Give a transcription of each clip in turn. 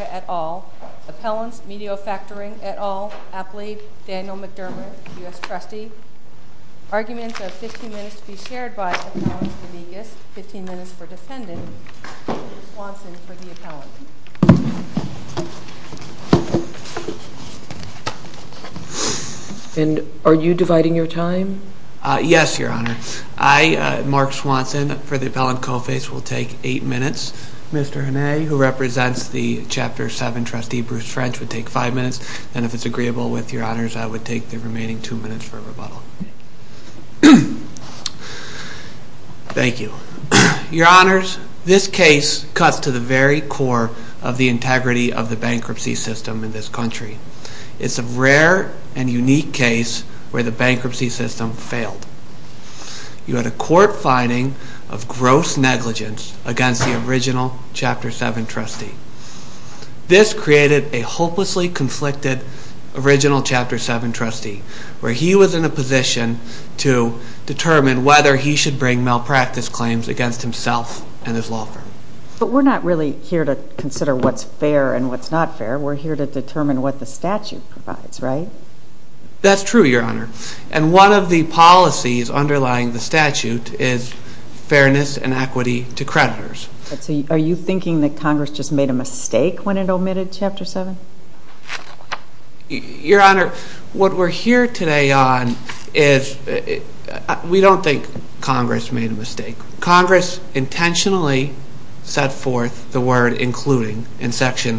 at all, appellants Medeo Factoring et al, Apley, Daniel McDermott, U.S. Trustee. Arguments of 15 minutes to be shared by Appellants DeVegas, 15 minutes for Defendant, Swanson for the Appellant Co-Face. Are you dividing your time? Yes, Your Honor. I, Mark Swanson, for the Appellant Co-Face will take 8 minutes. Mr. Hene, who represents the Chapter 7 Trustee, Bruce French, would take 5 minutes. And if it's agreeable with Your Honors, I would take the remaining 2 minutes for rebuttal. Thank you. Your Honors, this case cuts to the very core of the integrity of the bankruptcy system in this country. It's a rare and unique case where the bankruptcy system failed. You had a court finding of gross negligence against the original Chapter 7 Trustee. This created a hopelessly conflicted original Chapter 7 Trustee, where he was in a position to determine whether he should bring malpractice claims against himself and his law firm. But we're not really here to consider what's fair and what's not fair. We're here to determine what the statute provides, right? That's true, Your Honor. And one of the policies underlying the statute is fairness and equity to creditors. Are you thinking that Congress just made a mistake when it omitted Chapter 7? Your Honor, what we're here It defined the word including in Section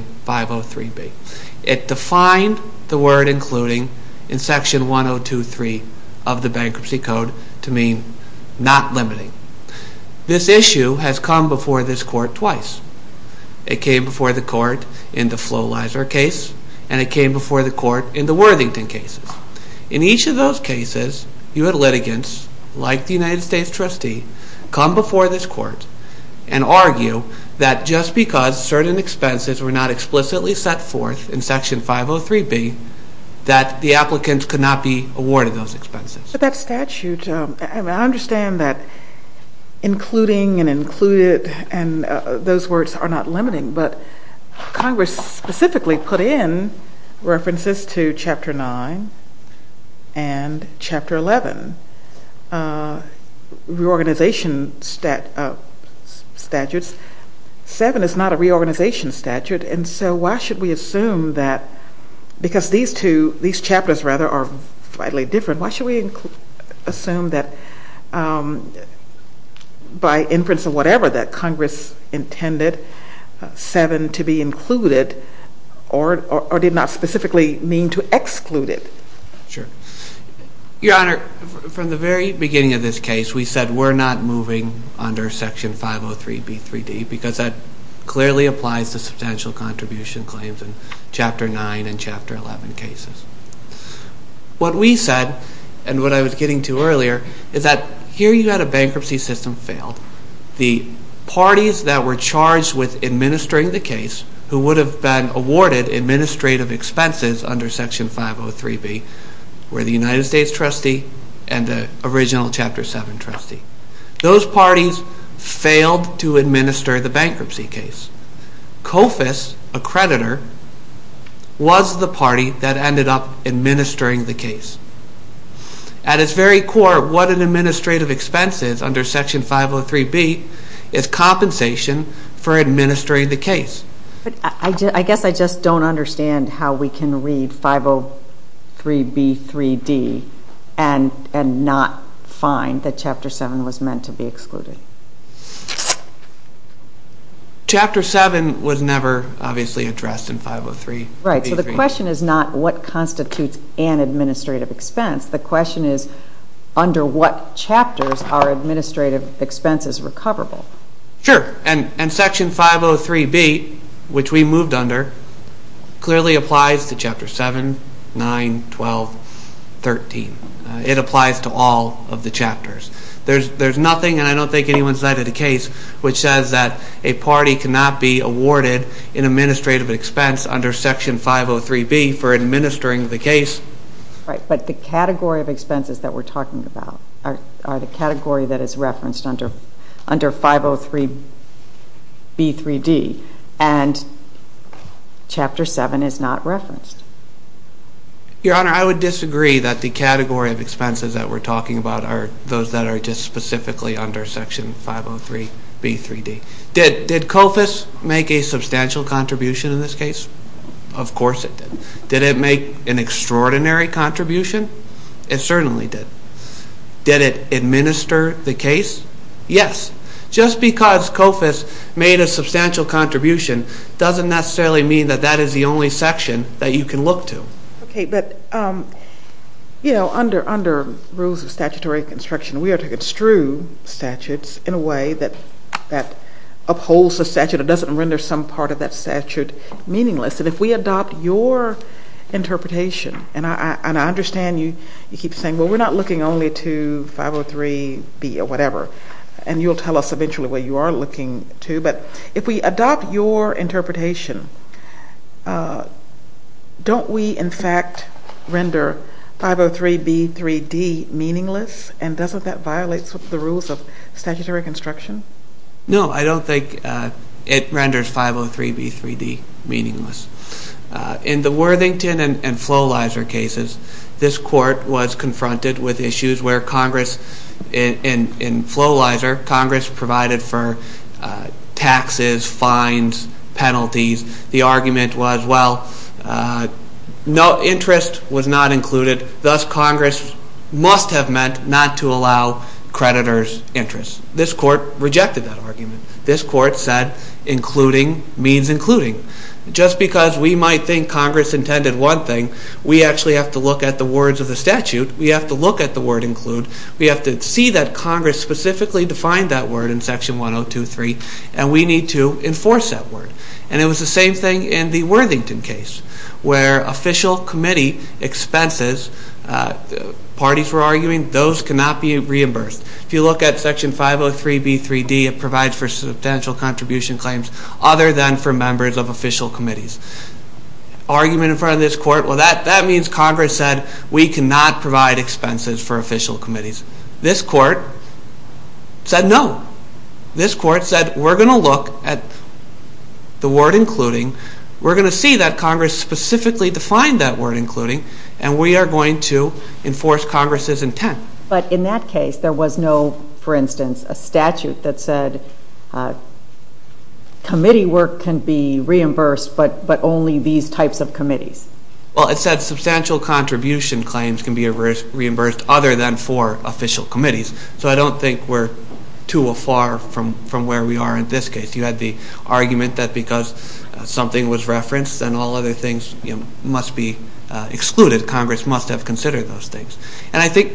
1023 of the Bankruptcy Code to mean not limiting. This issue has come before this court twice. It came before the court in the Floelizer case, and it came before the court in the Worthington cases. In each of those cases, you had litigants, like the Section 503B, that the applicants could not be awarded those expenses. But that statute, I understand that including and included and those words are not limiting, but Congress specifically put in references to Chapter 9 and Chapter 11 reorganization statutes. 7 is not a reorganization statute, and so why should we assume that, because these two, these chapters rather, are slightly different, why should we assume that by inference or whatever that Congress intended 7 to be included or did not specifically mean to exclude it? Your Honor, from the very beginning of this claims in Chapter 9 and Chapter 11 cases. What we said, and what I was getting to earlier, is that here you had a bankruptcy system fail. The parties that were charged with administering the case who would have been awarded administrative expenses under Section 503B were the United States and the original Chapter 7 trustee. Those parties failed to administer the bankruptcy case. COFIS, a creditor, was the party that ended up administering the case. At its very core, what an administrative expense is under Section 503B is compensation for administering the case. But I guess I just don't understand how we can read 503B3D and not find that Chapter 7 was meant to be excluded. Chapter 7 was never obviously addressed in 503B3D. Right, so the question is not what constitutes an administrative expense. The question is under what chapters are administrative expenses recoverable. Sure, and Section 503B, which we moved under, clearly applies to Chapter 7, 9, 12, 13. It applies to all of the chapters. There's nothing, and I don't think anyone cited a case, which says that a party cannot be awarded an administrative expense under Section 503B for under 503B3D, and Chapter 7 is not referenced. Your Honor, I would disagree that the category of expenses that we're talking about are those that are just specifically under Section 503B3D. Did COFIS make a substantial contribution in this case? Of course it did. Did it make an extraordinary contribution? It certainly did. Did it administer the case? Yes. Just because COFIS made a substantial contribution doesn't necessarily mean that that is the only section that you can look to. Okay, but you know, under rules of statutory construction, we are to construe statutes in a way that upholds a statute or doesn't render some part of that statute meaningless, and if we adopt your interpretation, and I understand you keep saying, well, we're not looking only to 503B or whatever, and you'll tell us eventually what you are looking to, but if we adopt your interpretation, don't we, in fact, render 503B3D meaningless? No, I don't think it renders 503B3D meaningless. In the Worthington and Floelizer cases, this Court was confronted with issues where Congress in Floelizer, Congress provided for taxes, fines, penalties. The argument was, well, interest was not included, thus Congress must have meant not to allow creditors' interest. This Court rejected that argument. This Court said including means including. Just because we might think Congress intended one thing, we actually have to look at the words of the statute, we have to look at the word include, we have to see that Congress specifically defined that word in Section 1023, and we need to enforce that word. And it was the same thing in the Worthington case, where official committee expenses, parties were arguing, those cannot be reimbursed. If you look at Section 503B3D, it provides for substantial contribution claims other than for members of official committees. Argument in front of this Court, well, that means Congress said we cannot provide expenses for official committees. This Court said no. This Court said we're going to look at the word including, we're going to see that Congress specifically defined that word including, and we are going to enforce Congress' intent. But in that case, there was no, for instance, a statute that said committee work can be reimbursed, but only these types of committees. Well, it said substantial contribution claims can be reimbursed other than for official committees, so I don't think we're too far from where we are in this case. You had the argument that because something was referenced and all other things must be excluded, Congress must have considered those things. And I think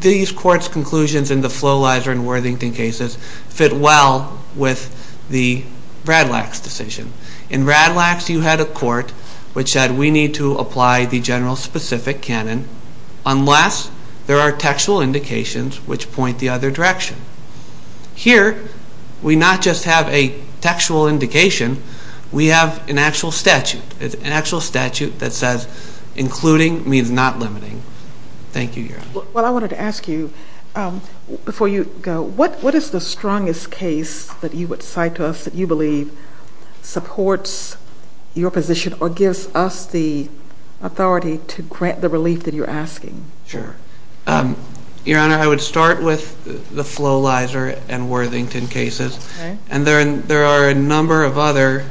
these Court's conclusions in the Floelizer and Worthington cases fit well with the Radlax decision. In Radlax, you had a Court which said we need to apply the general specific canon unless there are textual indications which point the other direction. Here, we not just have a textual indication, we have an actual statute, an actual statute that says including means not limiting. Thank you, Your Honor. Well, I wanted to ask you, before you go, what is the strongest case that you would cite to us that you believe supports your position or gives us the authority to grant the relief that you're asking? Sure. Your Honor, I would start with the Floelizer and Worthington cases. And there are a number of other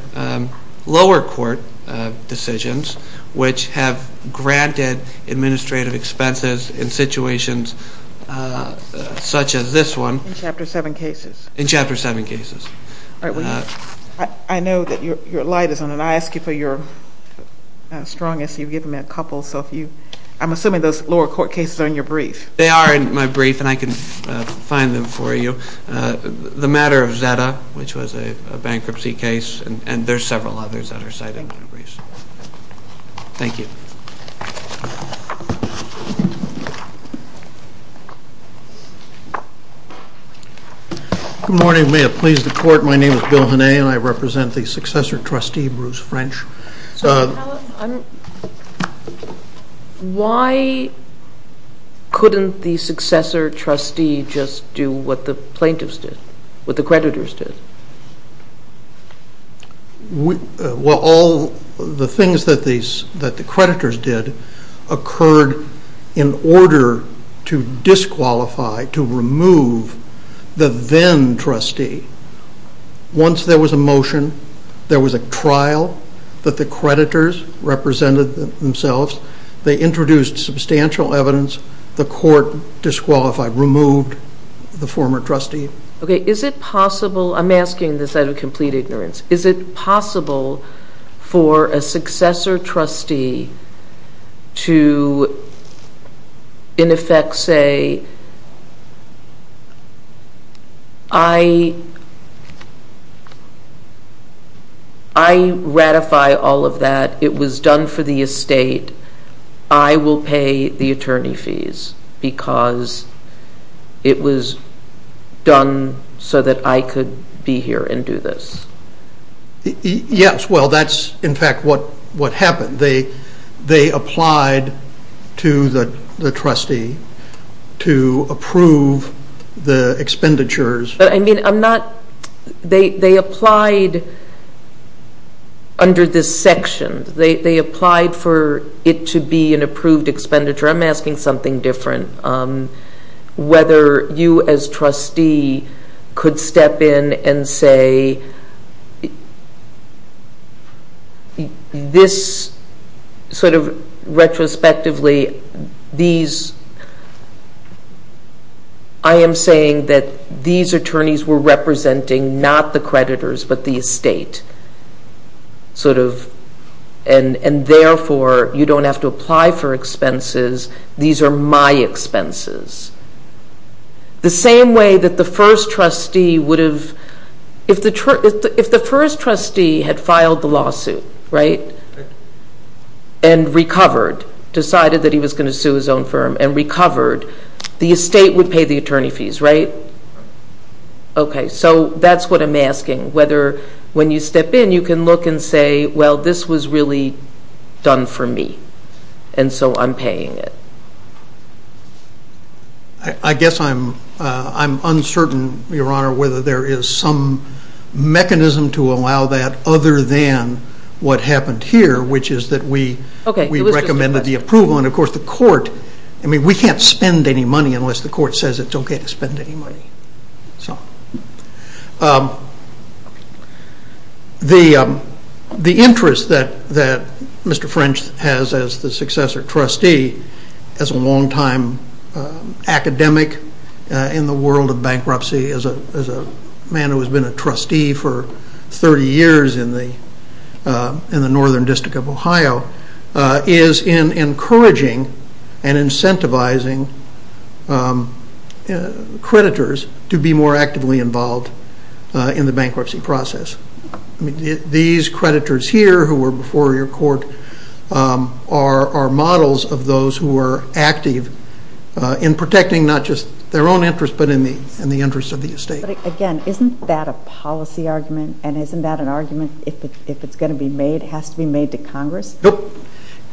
lower court decisions which have granted administrative expenses in situations such as this one. In Chapter 7 cases? In Chapter 7 cases. I know that your light is on, and I ask you for your strongest. You've given me a couple. I'm assuming those lower court cases are in your brief. They are in my brief, and I can find them for you. The matter of Zeta, which was a bankruptcy case, and there are several others that are cited in my brief. Thank you. Good morning. May it please the Court, my name is Bill Henné, and I represent the successor trustee, Bruce French. Why couldn't the successor trustee just do what the plaintiffs did, what the creditors did? Well, all the things that the creditors did occurred in order to disqualify, to remove, the then trustee. Once there was a motion, there was a trial that the creditors represented themselves, they introduced substantial evidence, the court disqualified, removed the former trustee. Okay, is it possible, I'm asking this out of complete ignorance, is it possible for a successor trustee to, in effect, say, I ratify all of that, it was done for the estate, I will pay the attorney fees because it was done so that I could be here and do this? Yes, well, that's in fact what happened. They applied to the trustee to approve the expenditures. But I mean, I'm not, they applied under this section, they applied for it to be an approved expenditure, I'm asking something different. Whether you as trustee could step in and say, this sort of retrospectively, these, I am saying that these attorneys were representing not the creditors, but the estate. Sort of, and therefore, you don't have to apply for expenses, these are my expenses. The same way that the first trustee would have, if the first trustee had filed the lawsuit, right, and recovered, decided that he was going to sue his own firm and recovered, the estate would pay the attorney fees, right? Okay, so that's what I'm asking, whether, when you step in, you can look and say, well, this was really done for me, and so I'm paying it. I guess I'm uncertain, Your Honor, whether there is some mechanism to allow that other than what happened here, which is that we recommended the approval, and of course the court, I mean, we can't spend any money unless the court says it's okay to spend any money. So, the interest that Mr. French has as the successor trustee, as a long-time academic in the world of bankruptcy, as a man who has been a trustee for 30 years in the Northern District of Ohio, is in encouraging and incentivizing creditors to be more actively involved in the bankruptcy process. These creditors here, who were before your court, are models of those who are active in protecting not just their own interest, but in the interest of the estate. But again, isn't that a policy argument, and isn't that an argument, if it's going to be made, has to be made to Congress? Nope.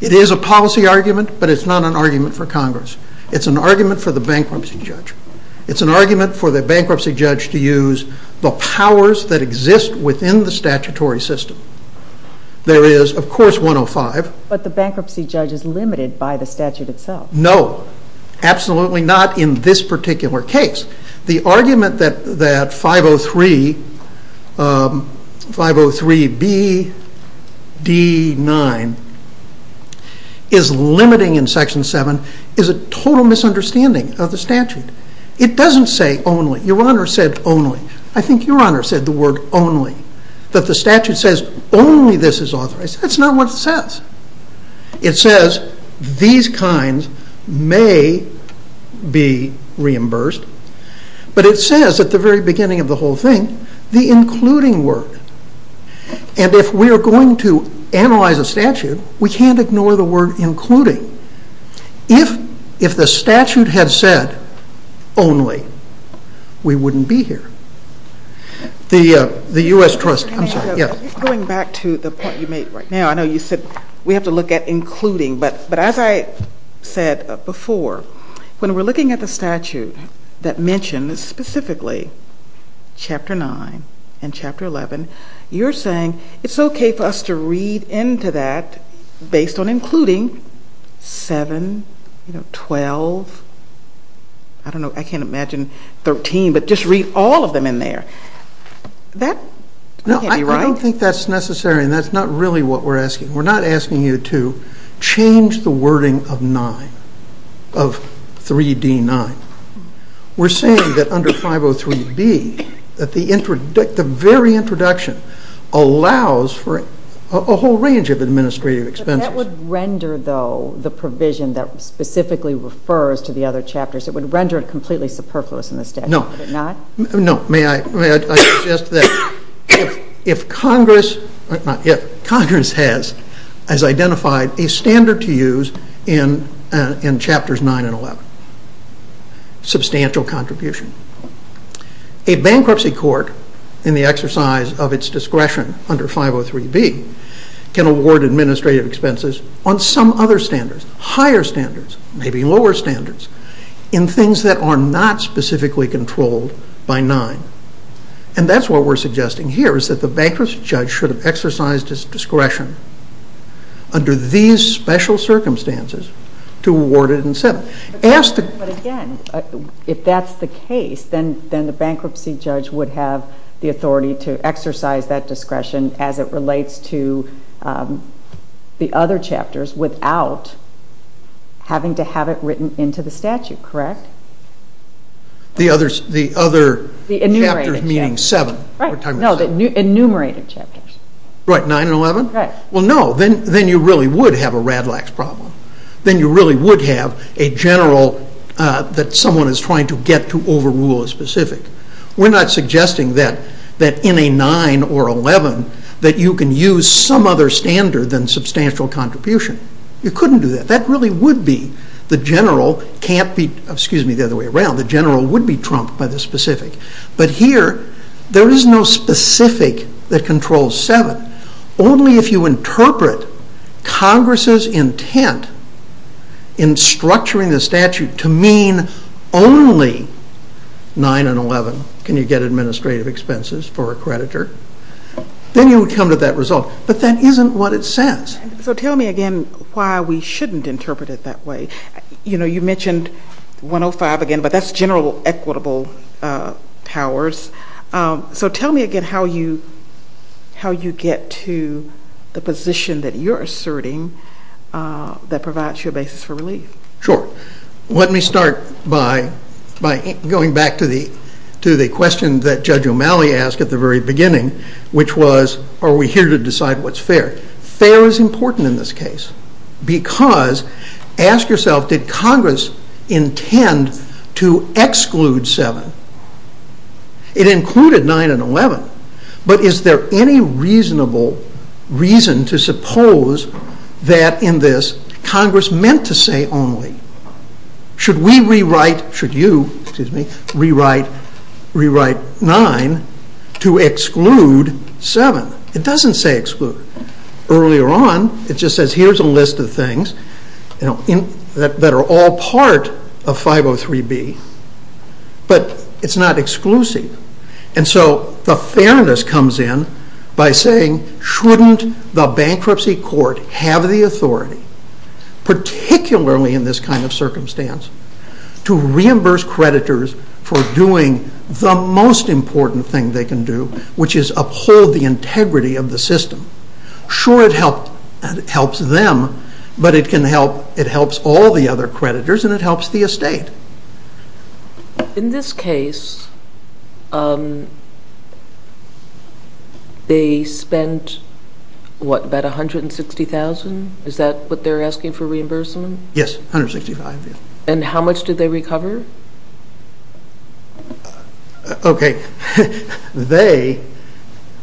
It is a policy argument, but it's not an argument for Congress. It's an argument for the bankruptcy judge. It's an argument for the bankruptcy judge to use the powers that exist within the statutory system. There is, of course, 105. But the bankruptcy judge is limited by the statute itself. No. Absolutely not in this particular case. The argument that 503 B.D. 9 is limiting in Section 7 is a total misunderstanding of the statute. It doesn't say only. Your Honor said only. I think your Honor said the word only. But the statute says only this is authorized. That's not what it says. It says these kinds may be reimbursed, but it says at the very beginning of the whole thing, the including word. And if we are going to analyze a statute, we can't ignore the word including. If the statute had said only, we wouldn't be here. The U.S. Trust, I'm sorry. Going back to the point you made right now, I know you said we have to look at including, but as I said before, when we're looking at the statute that mentions specifically Chapter 9 and Chapter 11, you're saying it's okay for us to read into that based on including 7, 12, I don't know, I can't imagine 13, but just read all of them in there. That can't be right. No, I don't think that's necessary, and that's not really what we're asking. We're not asking you to change the wording of 9, of 3.D. 9. We're saying that under 503 B., that the very introduction allows for a whole range of administrative expenses. But that would render, though, the provision that specifically refers to the other chapters, it would render it completely superfluous in the statute, would it not? No, may I suggest that if Congress has identified a standard to use in Chapters 9 and 11, substantial contribution. A bankruptcy court, in the exercise of its discretion under 503 B., can award administrative expenses on some other standards, higher standards, maybe lower standards, in things that are not specifically controlled by 9. And that's what we're suggesting here, is that the bankruptcy judge should have exercised his discretion under these special circumstances to award it in 7. But again, if that's the case, then the bankruptcy judge would have the authority to exercise that discretion as it relates to the other chapters without having to have it written into the statute, correct? The other chapters meaning 7? Right, no, the enumerated chapters. Right, 9 and 11? Right. Well, no, then you really would have a rad lax problem. Then you really would have a general, that someone is trying to get to overrule a specific. We're not suggesting that in a 9 or 11, that you can use some other standard than substantial contribution. You couldn't do that. That really would be the general, can't be, excuse me, the other way around. The general would be trumped by the specific. But here, there is no specific that controls 7. Only if you interpret Congress's intent in structuring the statute to mean only 9 and 11 can you get administrative expenses for a creditor. Then you would come to that result. But that isn't what it says. So tell me again why we shouldn't interpret it that way. You know, you mentioned 105 again, but that's general equitable powers. So tell me again how you get to the position that you're asserting that provides you a basis for relief. Sure. Let me start by going back to the question that Judge O'Malley asked at the very beginning, which was, are we here to decide what's fair? Fair is important in this case because, ask yourself, did Congress intend to exclude 7? It included 9 and 11, but is there any reasonable reason to suppose that in this, Congress meant to say only. Should we rewrite, should you, excuse me, rewrite 9 to exclude 7? It doesn't say exclude. Earlier on, it just says here's a list of things that are all part of 503B. But it's not exclusive. And so the fairness comes in by saying, shouldn't the bankruptcy court have the authority, particularly in this kind of circumstance, to reimburse creditors for doing the most important thing they can do, which is uphold the integrity of the system. Sure, it helps them, but it helps all the other creditors and it helps the estate. In this case, they spent, what, about $160,000? Is that what they're asking for reimbursement? Yes, $165,000. And how much did they recover? Okay, they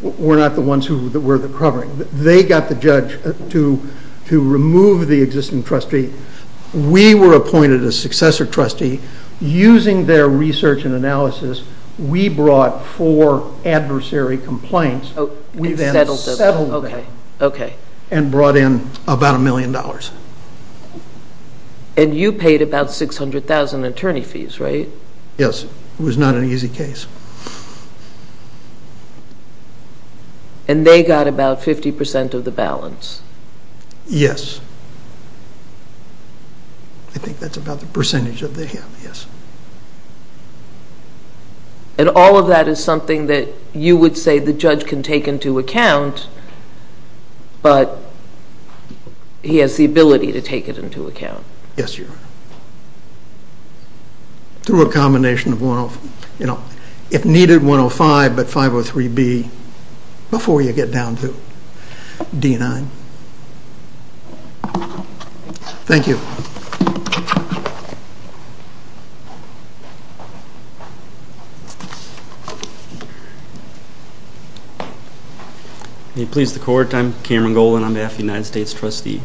were not the ones who were recovering. They got the judge to remove the existing trustee. We were appointed a successor trustee. Using their research and analysis, we brought four adversary complaints. We then settled them and brought in about $1 million. And you paid about $600,000 in attorney fees, right? Yes. It was not an easy case. And they got about 50% of the balance? Yes. I think that's about the percentage that they have, yes. And all of that is something that you would say the judge can take into account, but he has the ability to take it into account? Yes, Your Honor. Through a combination of, you know, if needed, 105, but 503B before you get down to D9. Thank you. May it please the Court? I'm Cameron Golan on behalf of the United States Trustee.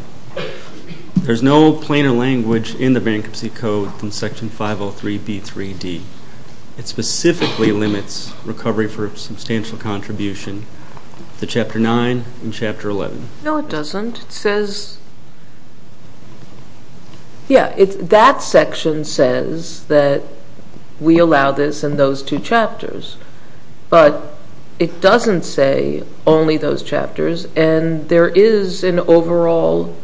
There's no plainer language in the Bankruptcy Code from Section 503B3D. It specifically limits recovery for substantial contribution to Chapter 9 and Chapter 11. No, it doesn't. It says, yeah, that section says that we allow this in those two chapters, but it doesn't say only those chapters. And there is an overall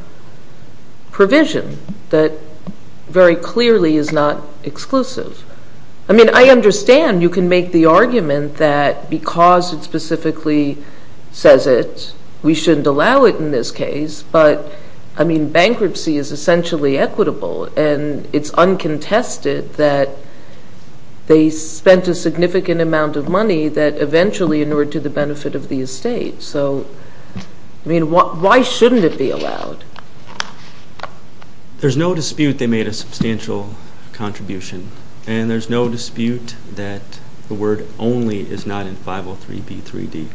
provision that very clearly is not exclusive. I mean, I understand you can make the argument that because it specifically says it, we shouldn't allow it in this case. But, I mean, bankruptcy is essentially equitable, and it's uncontested that they spent a significant amount of money that eventually inured to the benefit of the estate. So, I mean, why shouldn't it be allowed? There's no dispute they made a substantial contribution, and there's no dispute that the word only is not in 503B3D.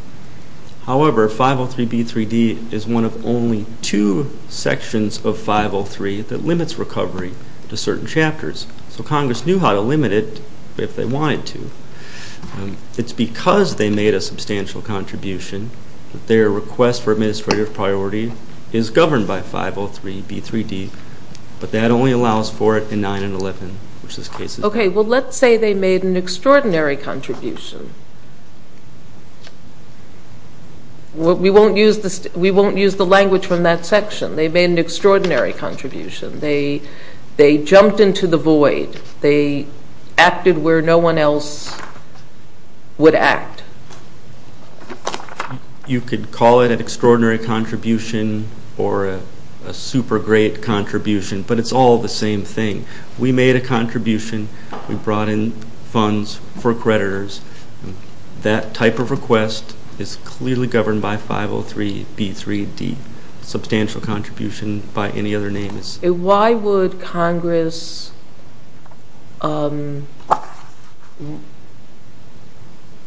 However, 503B3D is one of only two sections of 503 that limits recovery to certain chapters. So Congress knew how to limit it if they wanted to. It's because they made a substantial contribution that their request for administrative priority is governed by 503B3D. But that only allows for it in 9 and 11, which this case is. Okay, well, let's say they made an extraordinary contribution. We won't use the language from that section. They made an extraordinary contribution. They jumped into the void. They acted where no one else would act. You could call it an extraordinary contribution or a super great contribution, but it's all the same thing. We made a contribution. We brought in funds for creditors. That type of request is clearly governed by 503B3D, substantial contribution by any other name. Why would Congress –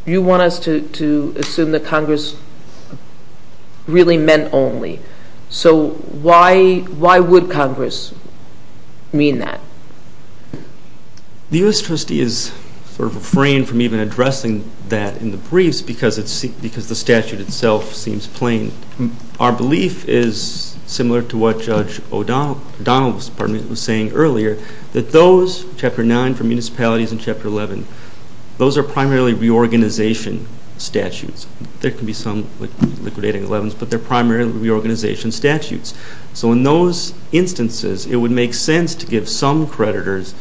you want us to assume that Congress really meant only. So why would Congress mean that? The U.S. Trustee is sort of refrained from even addressing that in the briefs because the statute itself seems plain. Our belief is similar to what Judge O'Donnell was saying earlier, that those, Chapter 9 for municipalities and Chapter 11, those are primarily reorganization statutes. There can be some liquidating 11s, but they're primarily reorganization statutes. So in those instances, it would make sense to give some creditors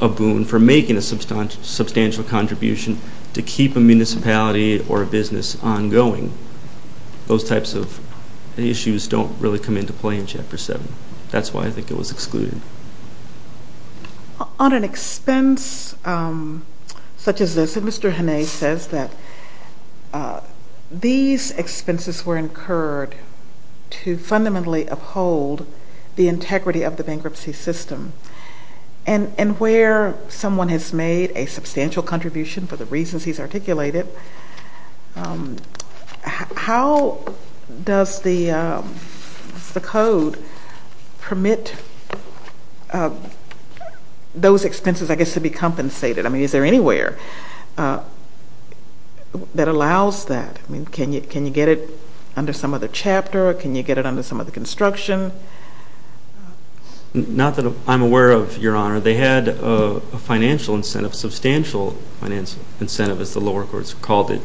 a boon for making a substantial contribution to keep a municipality or a business ongoing. Those types of issues don't really come into play in Chapter 7. That's why I think it was excluded. On an expense such as this, Mr. Hanay says that these expenses were incurred to fundamentally uphold the integrity of the bankruptcy system. And where someone has made a substantial contribution for the reasons he's articulated, how does the Code permit those expenses, I guess, to be compensated? I mean, is there anywhere that allows that? Can you get it under some other chapter? Can you get it under some other construction? Not that I'm aware of, Your Honor. They had a financial incentive, substantial financial incentive, as the lower courts called it,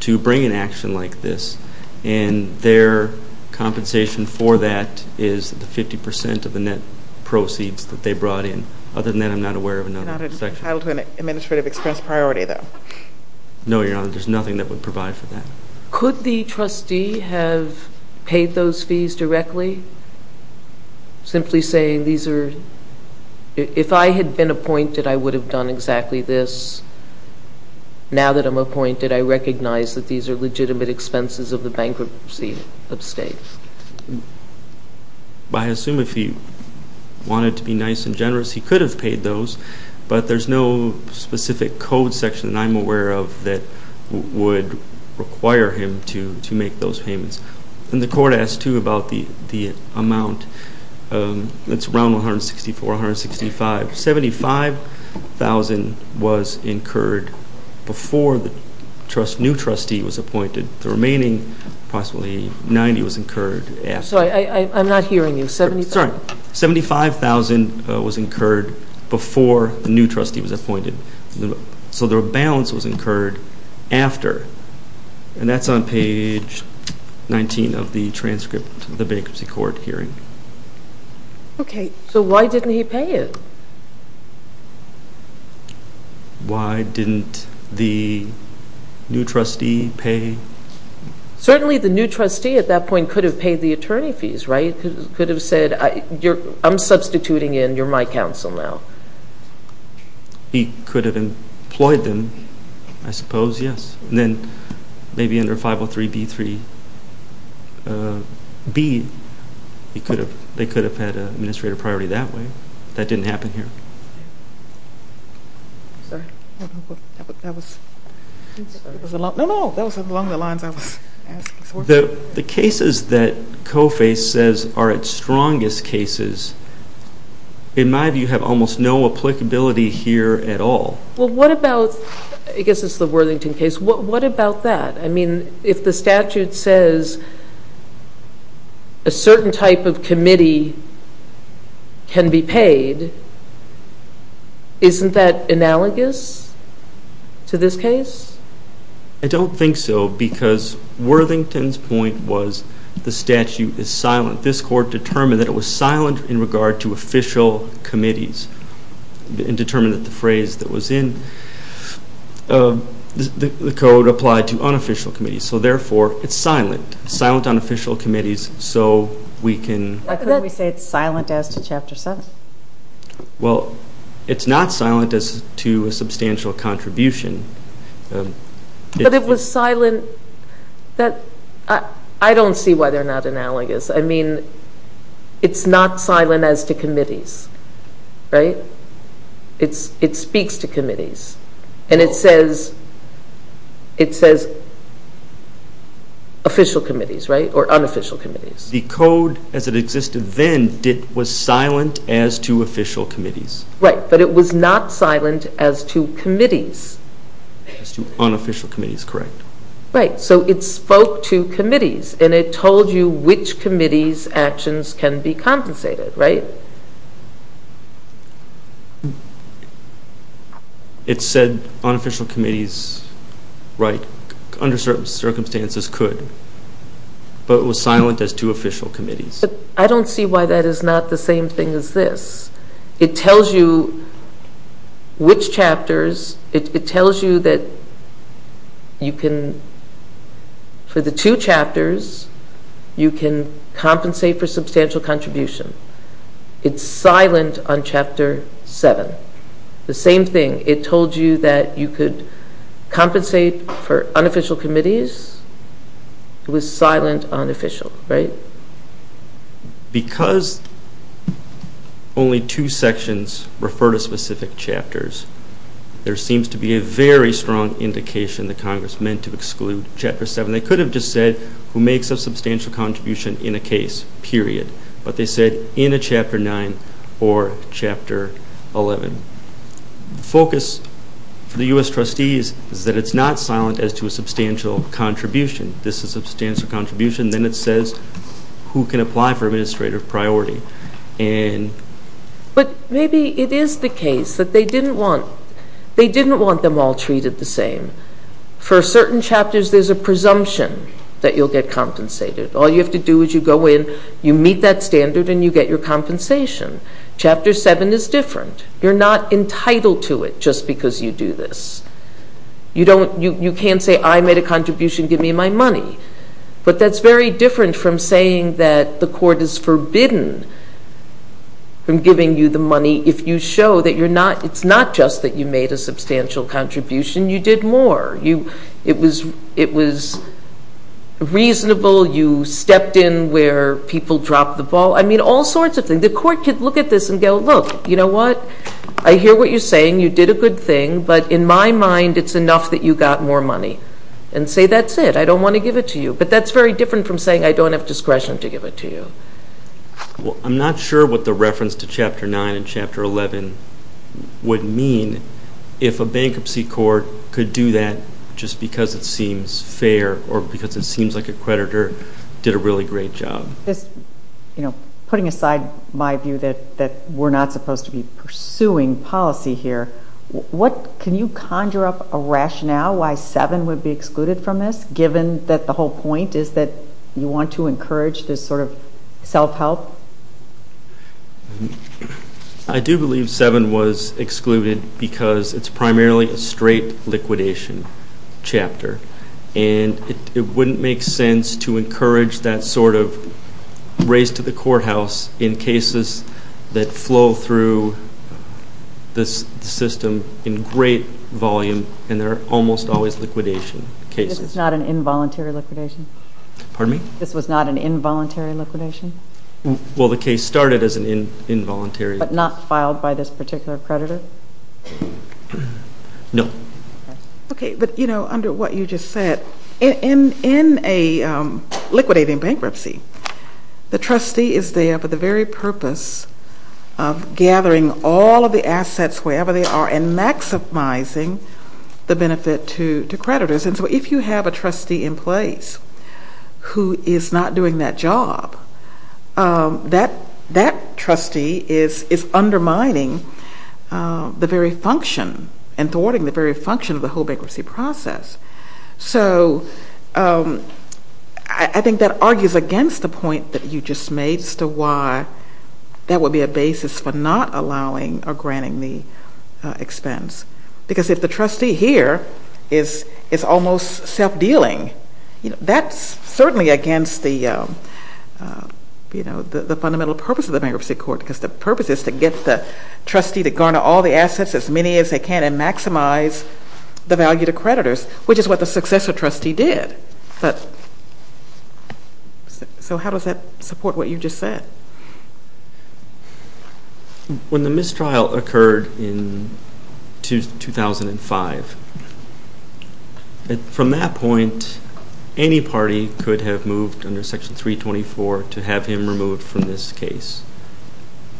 to bring an action like this. And their compensation for that is the 50 percent of the net proceeds that they brought in. Other than that, I'm not aware of another section. It's not entitled to an administrative expense priority, though. No, Your Honor. There's nothing that would provide for that. Could the trustee have paid those fees directly? Simply saying, if I had been appointed, I would have done exactly this. Now that I'm appointed, I recognize that these are legitimate expenses of the bankruptcy of state. I assume if he wanted to be nice and generous, he could have paid those. But there's no specific code section that I'm aware of that would require him to make those payments. And the court asked, too, about the amount. It's around $164,000, $165,000. $75,000 was incurred before the new trustee was appointed. The remaining, approximately $90,000, was incurred after. I'm sorry, I'm not hearing you. $75,000 was incurred before the new trustee was appointed. So the balance was incurred after. And that's on page 19 of the transcript of the bankruptcy court hearing. Okay. So why didn't he pay it? Why didn't the new trustee pay? Certainly the new trustee at that point could have paid the attorney fees, right? He could have said, I'm substituting in, you're my counsel now. He could have employed them, I suppose, yes. And then maybe under 503b3b, they could have had an administrative priority that way. That didn't happen here. Sorry. That was along the lines I was asking for. The cases that COFA says are its strongest cases, in my view, have almost no applicability here at all. Well, what about, I guess it's the Worthington case, what about that? I mean, if the statute says a certain type of committee can be paid, isn't that analogous to this case? I don't think so because Worthington's point was the statute is silent. This court determined that it was silent in regard to official committees and determined that the phrase that was in the code applied to unofficial committees. So, therefore, it's silent, silent on official committees, so we can. Why couldn't we say it's silent as to Chapter 7? Well, it's not silent as to a substantial contribution. But it was silent, I don't see why they're not analogous. I mean, it's not silent as to committees, right? It speaks to committees, and it says official committees, right, or unofficial committees. The code as it existed then was silent as to official committees. Right, but it was not silent as to committees. As to unofficial committees, correct. Right, so it spoke to committees, and it told you which committee's actions can be compensated, right? It said unofficial committees, right, under certain circumstances could. But it was silent as to official committees. But I don't see why that is not the same thing as this. It tells you which chapters, it tells you that you can, for the two chapters, you can compensate for substantial contribution. It's silent on Chapter 7. The same thing, it told you that you could compensate for unofficial committees. It was silent on official, right? Because only two sections refer to specific chapters, there seems to be a very strong indication that Congress meant to exclude Chapter 7. They could have just said, who makes a substantial contribution in a case, period. But they said in a Chapter 9 or Chapter 11. The focus for the U.S. trustees is that it's not silent as to a substantial contribution. This is a substantial contribution, then it says who can apply for administrative priority. But maybe it is the case that they didn't want them all treated the same. For certain chapters, there's a presumption that you'll get compensated. All you have to do is you go in, you meet that standard, and you get your compensation. Chapter 7 is different. You're not entitled to it just because you do this. You can't say, I made a contribution, give me my money. But that's very different from saying that the court is forbidden from giving you the money if you show that it's not just that you made a substantial contribution, you did more. It was reasonable, you stepped in where people dropped the ball. I mean, all sorts of things. The court could look at this and go, look, you know what? I hear what you're saying. You did a good thing. But in my mind, it's enough that you got more money. And say that's it. I don't want to give it to you. But that's very different from saying I don't have discretion to give it to you. I'm not sure what the reference to Chapter 9 and Chapter 11 would mean if a bankruptcy court could do that just because it seems fair or because it seems like a creditor did a really great job. Putting aside my view that we're not supposed to be pursuing policy here, can you conjure up a rationale why 7 would be excluded from this, given that the whole point is that you want to encourage this sort of self-help? I do believe 7 was excluded because it's primarily a straight liquidation chapter. And it wouldn't make sense to encourage that sort of race to the courthouse in cases that flow through the system in great volume, and they're almost always liquidation cases. This is not an involuntary liquidation? Pardon me? This was not an involuntary liquidation? Well, the case started as an involuntary. But not filed by this particular creditor? No. Okay. But, you know, under what you just said, in a liquidating bankruptcy, the trustee is there for the very purpose of gathering all of the assets, wherever they are, and maximizing the benefit to creditors. And so if you have a trustee in place who is not doing that job, that trustee is undermining the very function and thwarting the very function of the whole bankruptcy process. So I think that argues against the point that you just made as to why that would be a basis for not allowing or granting the expense. Because if the trustee here is almost self-dealing, that's certainly against the fundamental purpose of the bankruptcy court, because the purpose is to get the trustee to garner all the assets, as many as they can, and maximize the value to creditors, which is what the successor trustee did. So how does that support what you just said? When the mistrial occurred in 2005, from that point, any party could have moved under Section 324 to have him removed from this case.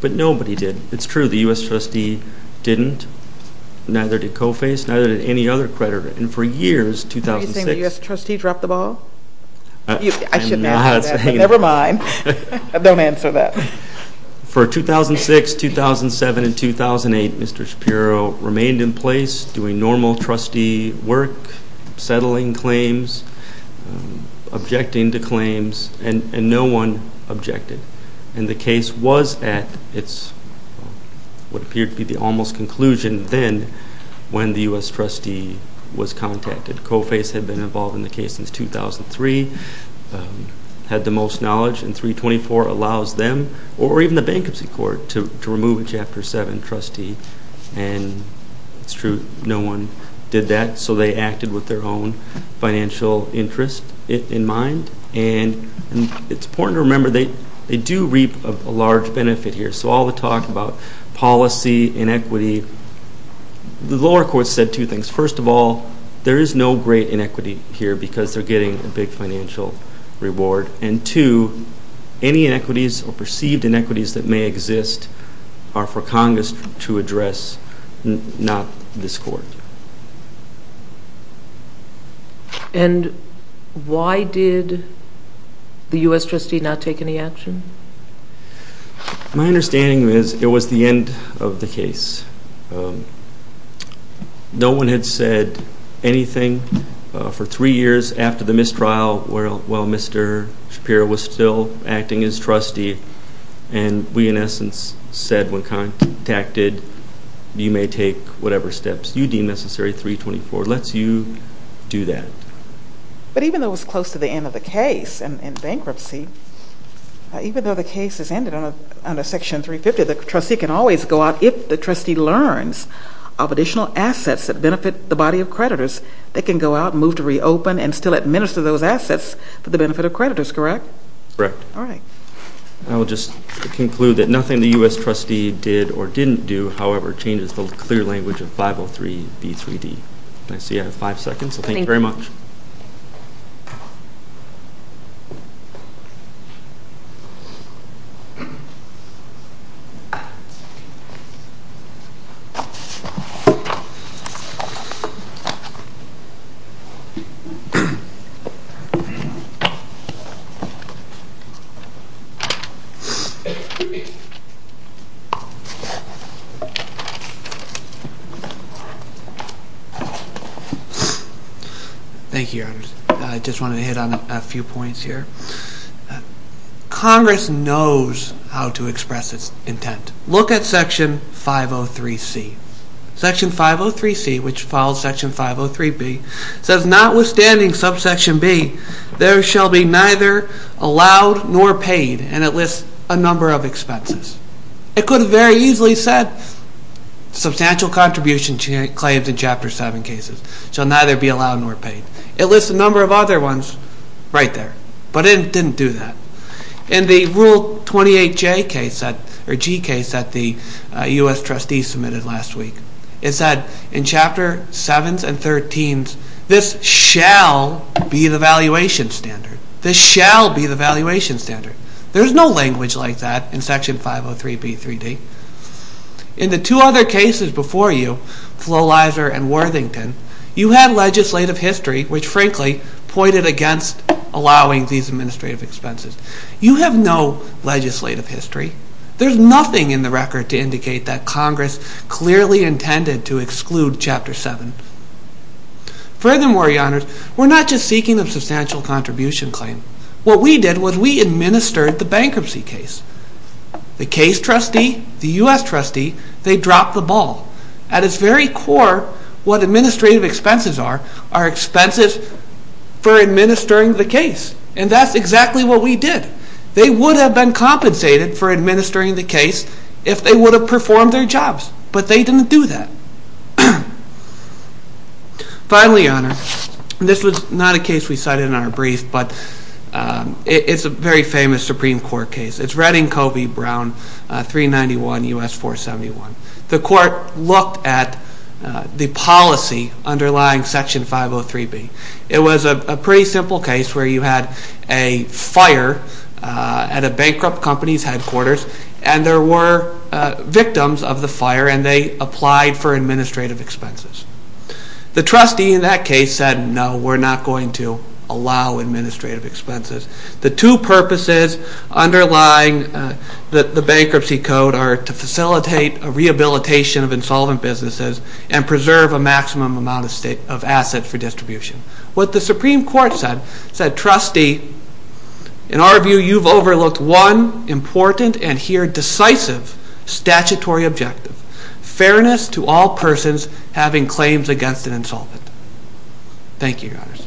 But nobody did. It's true, the U.S. trustee didn't. Neither did COFACE. Neither did any other creditor. And for years, 2006— Are you saying the U.S. trustee dropped the ball? I shouldn't answer that, but never mind. Don't answer that. For 2006, 2007, and 2008, Mr. Shapiro remained in place, doing normal trustee work, settling claims, objecting to claims, and no one objected. And the case was at what appeared to be the almost conclusion then when the U.S. trustee was contacted. COFACE had been involved in the case since 2003, had the most knowledge, and 324 allows them, or even the Bankruptcy Court, to remove a Chapter 7 trustee. And it's true, no one did that, so they acted with their own financial interest in mind. And it's important to remember they do reap a large benefit here. So all the talk about policy, inequity, the lower courts said two things. First of all, there is no great inequity here because they're getting a big financial reward. And two, any inequities or perceived inequities that may exist are for Congress to address, not this court. And why did the U.S. trustee not take any action? My understanding is it was the end of the case. No one had said anything for three years after the mistrial while Mr. Shapiro was still acting as trustee. And we, in essence, said when contacted, you may take whatever steps you deem necessary. 324 lets you do that. But even though it was close to the end of the case and bankruptcy, even though the case has ended under Section 350, the trustee can always go out, if the trustee learns, of additional assets that benefit the body of creditors that can go out and move to reopen and still administer those assets for the benefit of creditors, correct? Correct. All right. I will just conclude that nothing the U.S. trustee did or didn't do, however, changes the clear language of 503B3D. I see I have five seconds, so thank you very much. Thank you. I just wanted to hit on a few points here. Congress knows how to express its intent. Look at Section 503C. Section 503C, which follows Section 503B, says notwithstanding subsection B, there shall be neither allowed nor paid, and it lists a number of expenses. It could have very easily said, substantial contribution claims in Chapter 7 cases shall neither be allowed nor paid. It lists a number of other ones right there, but it didn't do that. In the Rule 28J case, or G case, that the U.S. trustees submitted last week, it said in Chapter 7 and 13, this shall be the valuation standard. This shall be the valuation standard. There is no language like that in Section 503B3D. In the two other cases before you, Flo Lizer and Worthington, you had legislative history which, frankly, pointed against allowing these administrative expenses. You have no legislative history. There's nothing in the record to indicate that Congress clearly intended to exclude Chapter 7. Furthermore, Your Honors, we're not just seeking a substantial contribution claim. What we did was we administered the bankruptcy case. The case trustee, the U.S. trustee, they dropped the ball. At its very core, what administrative expenses are are expenses for administering the case, and that's exactly what we did. They would have been compensated for administering the case if they would have performed their jobs, but they didn't do that. Finally, Your Honor, this was not a case we cited in our brief, but it's a very famous Supreme Court case. It's Redding-Covey-Brown, 391 U.S. 471. The court looked at the policy underlying Section 503B. It was a pretty simple case where you had a fire at a bankrupt company's headquarters, and there were victims of the fire, and they applied for administrative expenses. The trustee in that case said, no, we're not going to allow administrative expenses. The two purposes underlying the bankruptcy code are to facilitate a rehabilitation of insolvent businesses and preserve a maximum amount of assets for distribution. What the Supreme Court said, it said, trustee, in our view, you've overlooked one important and here decisive statutory objective, Thank you, Your Honors. Thank you.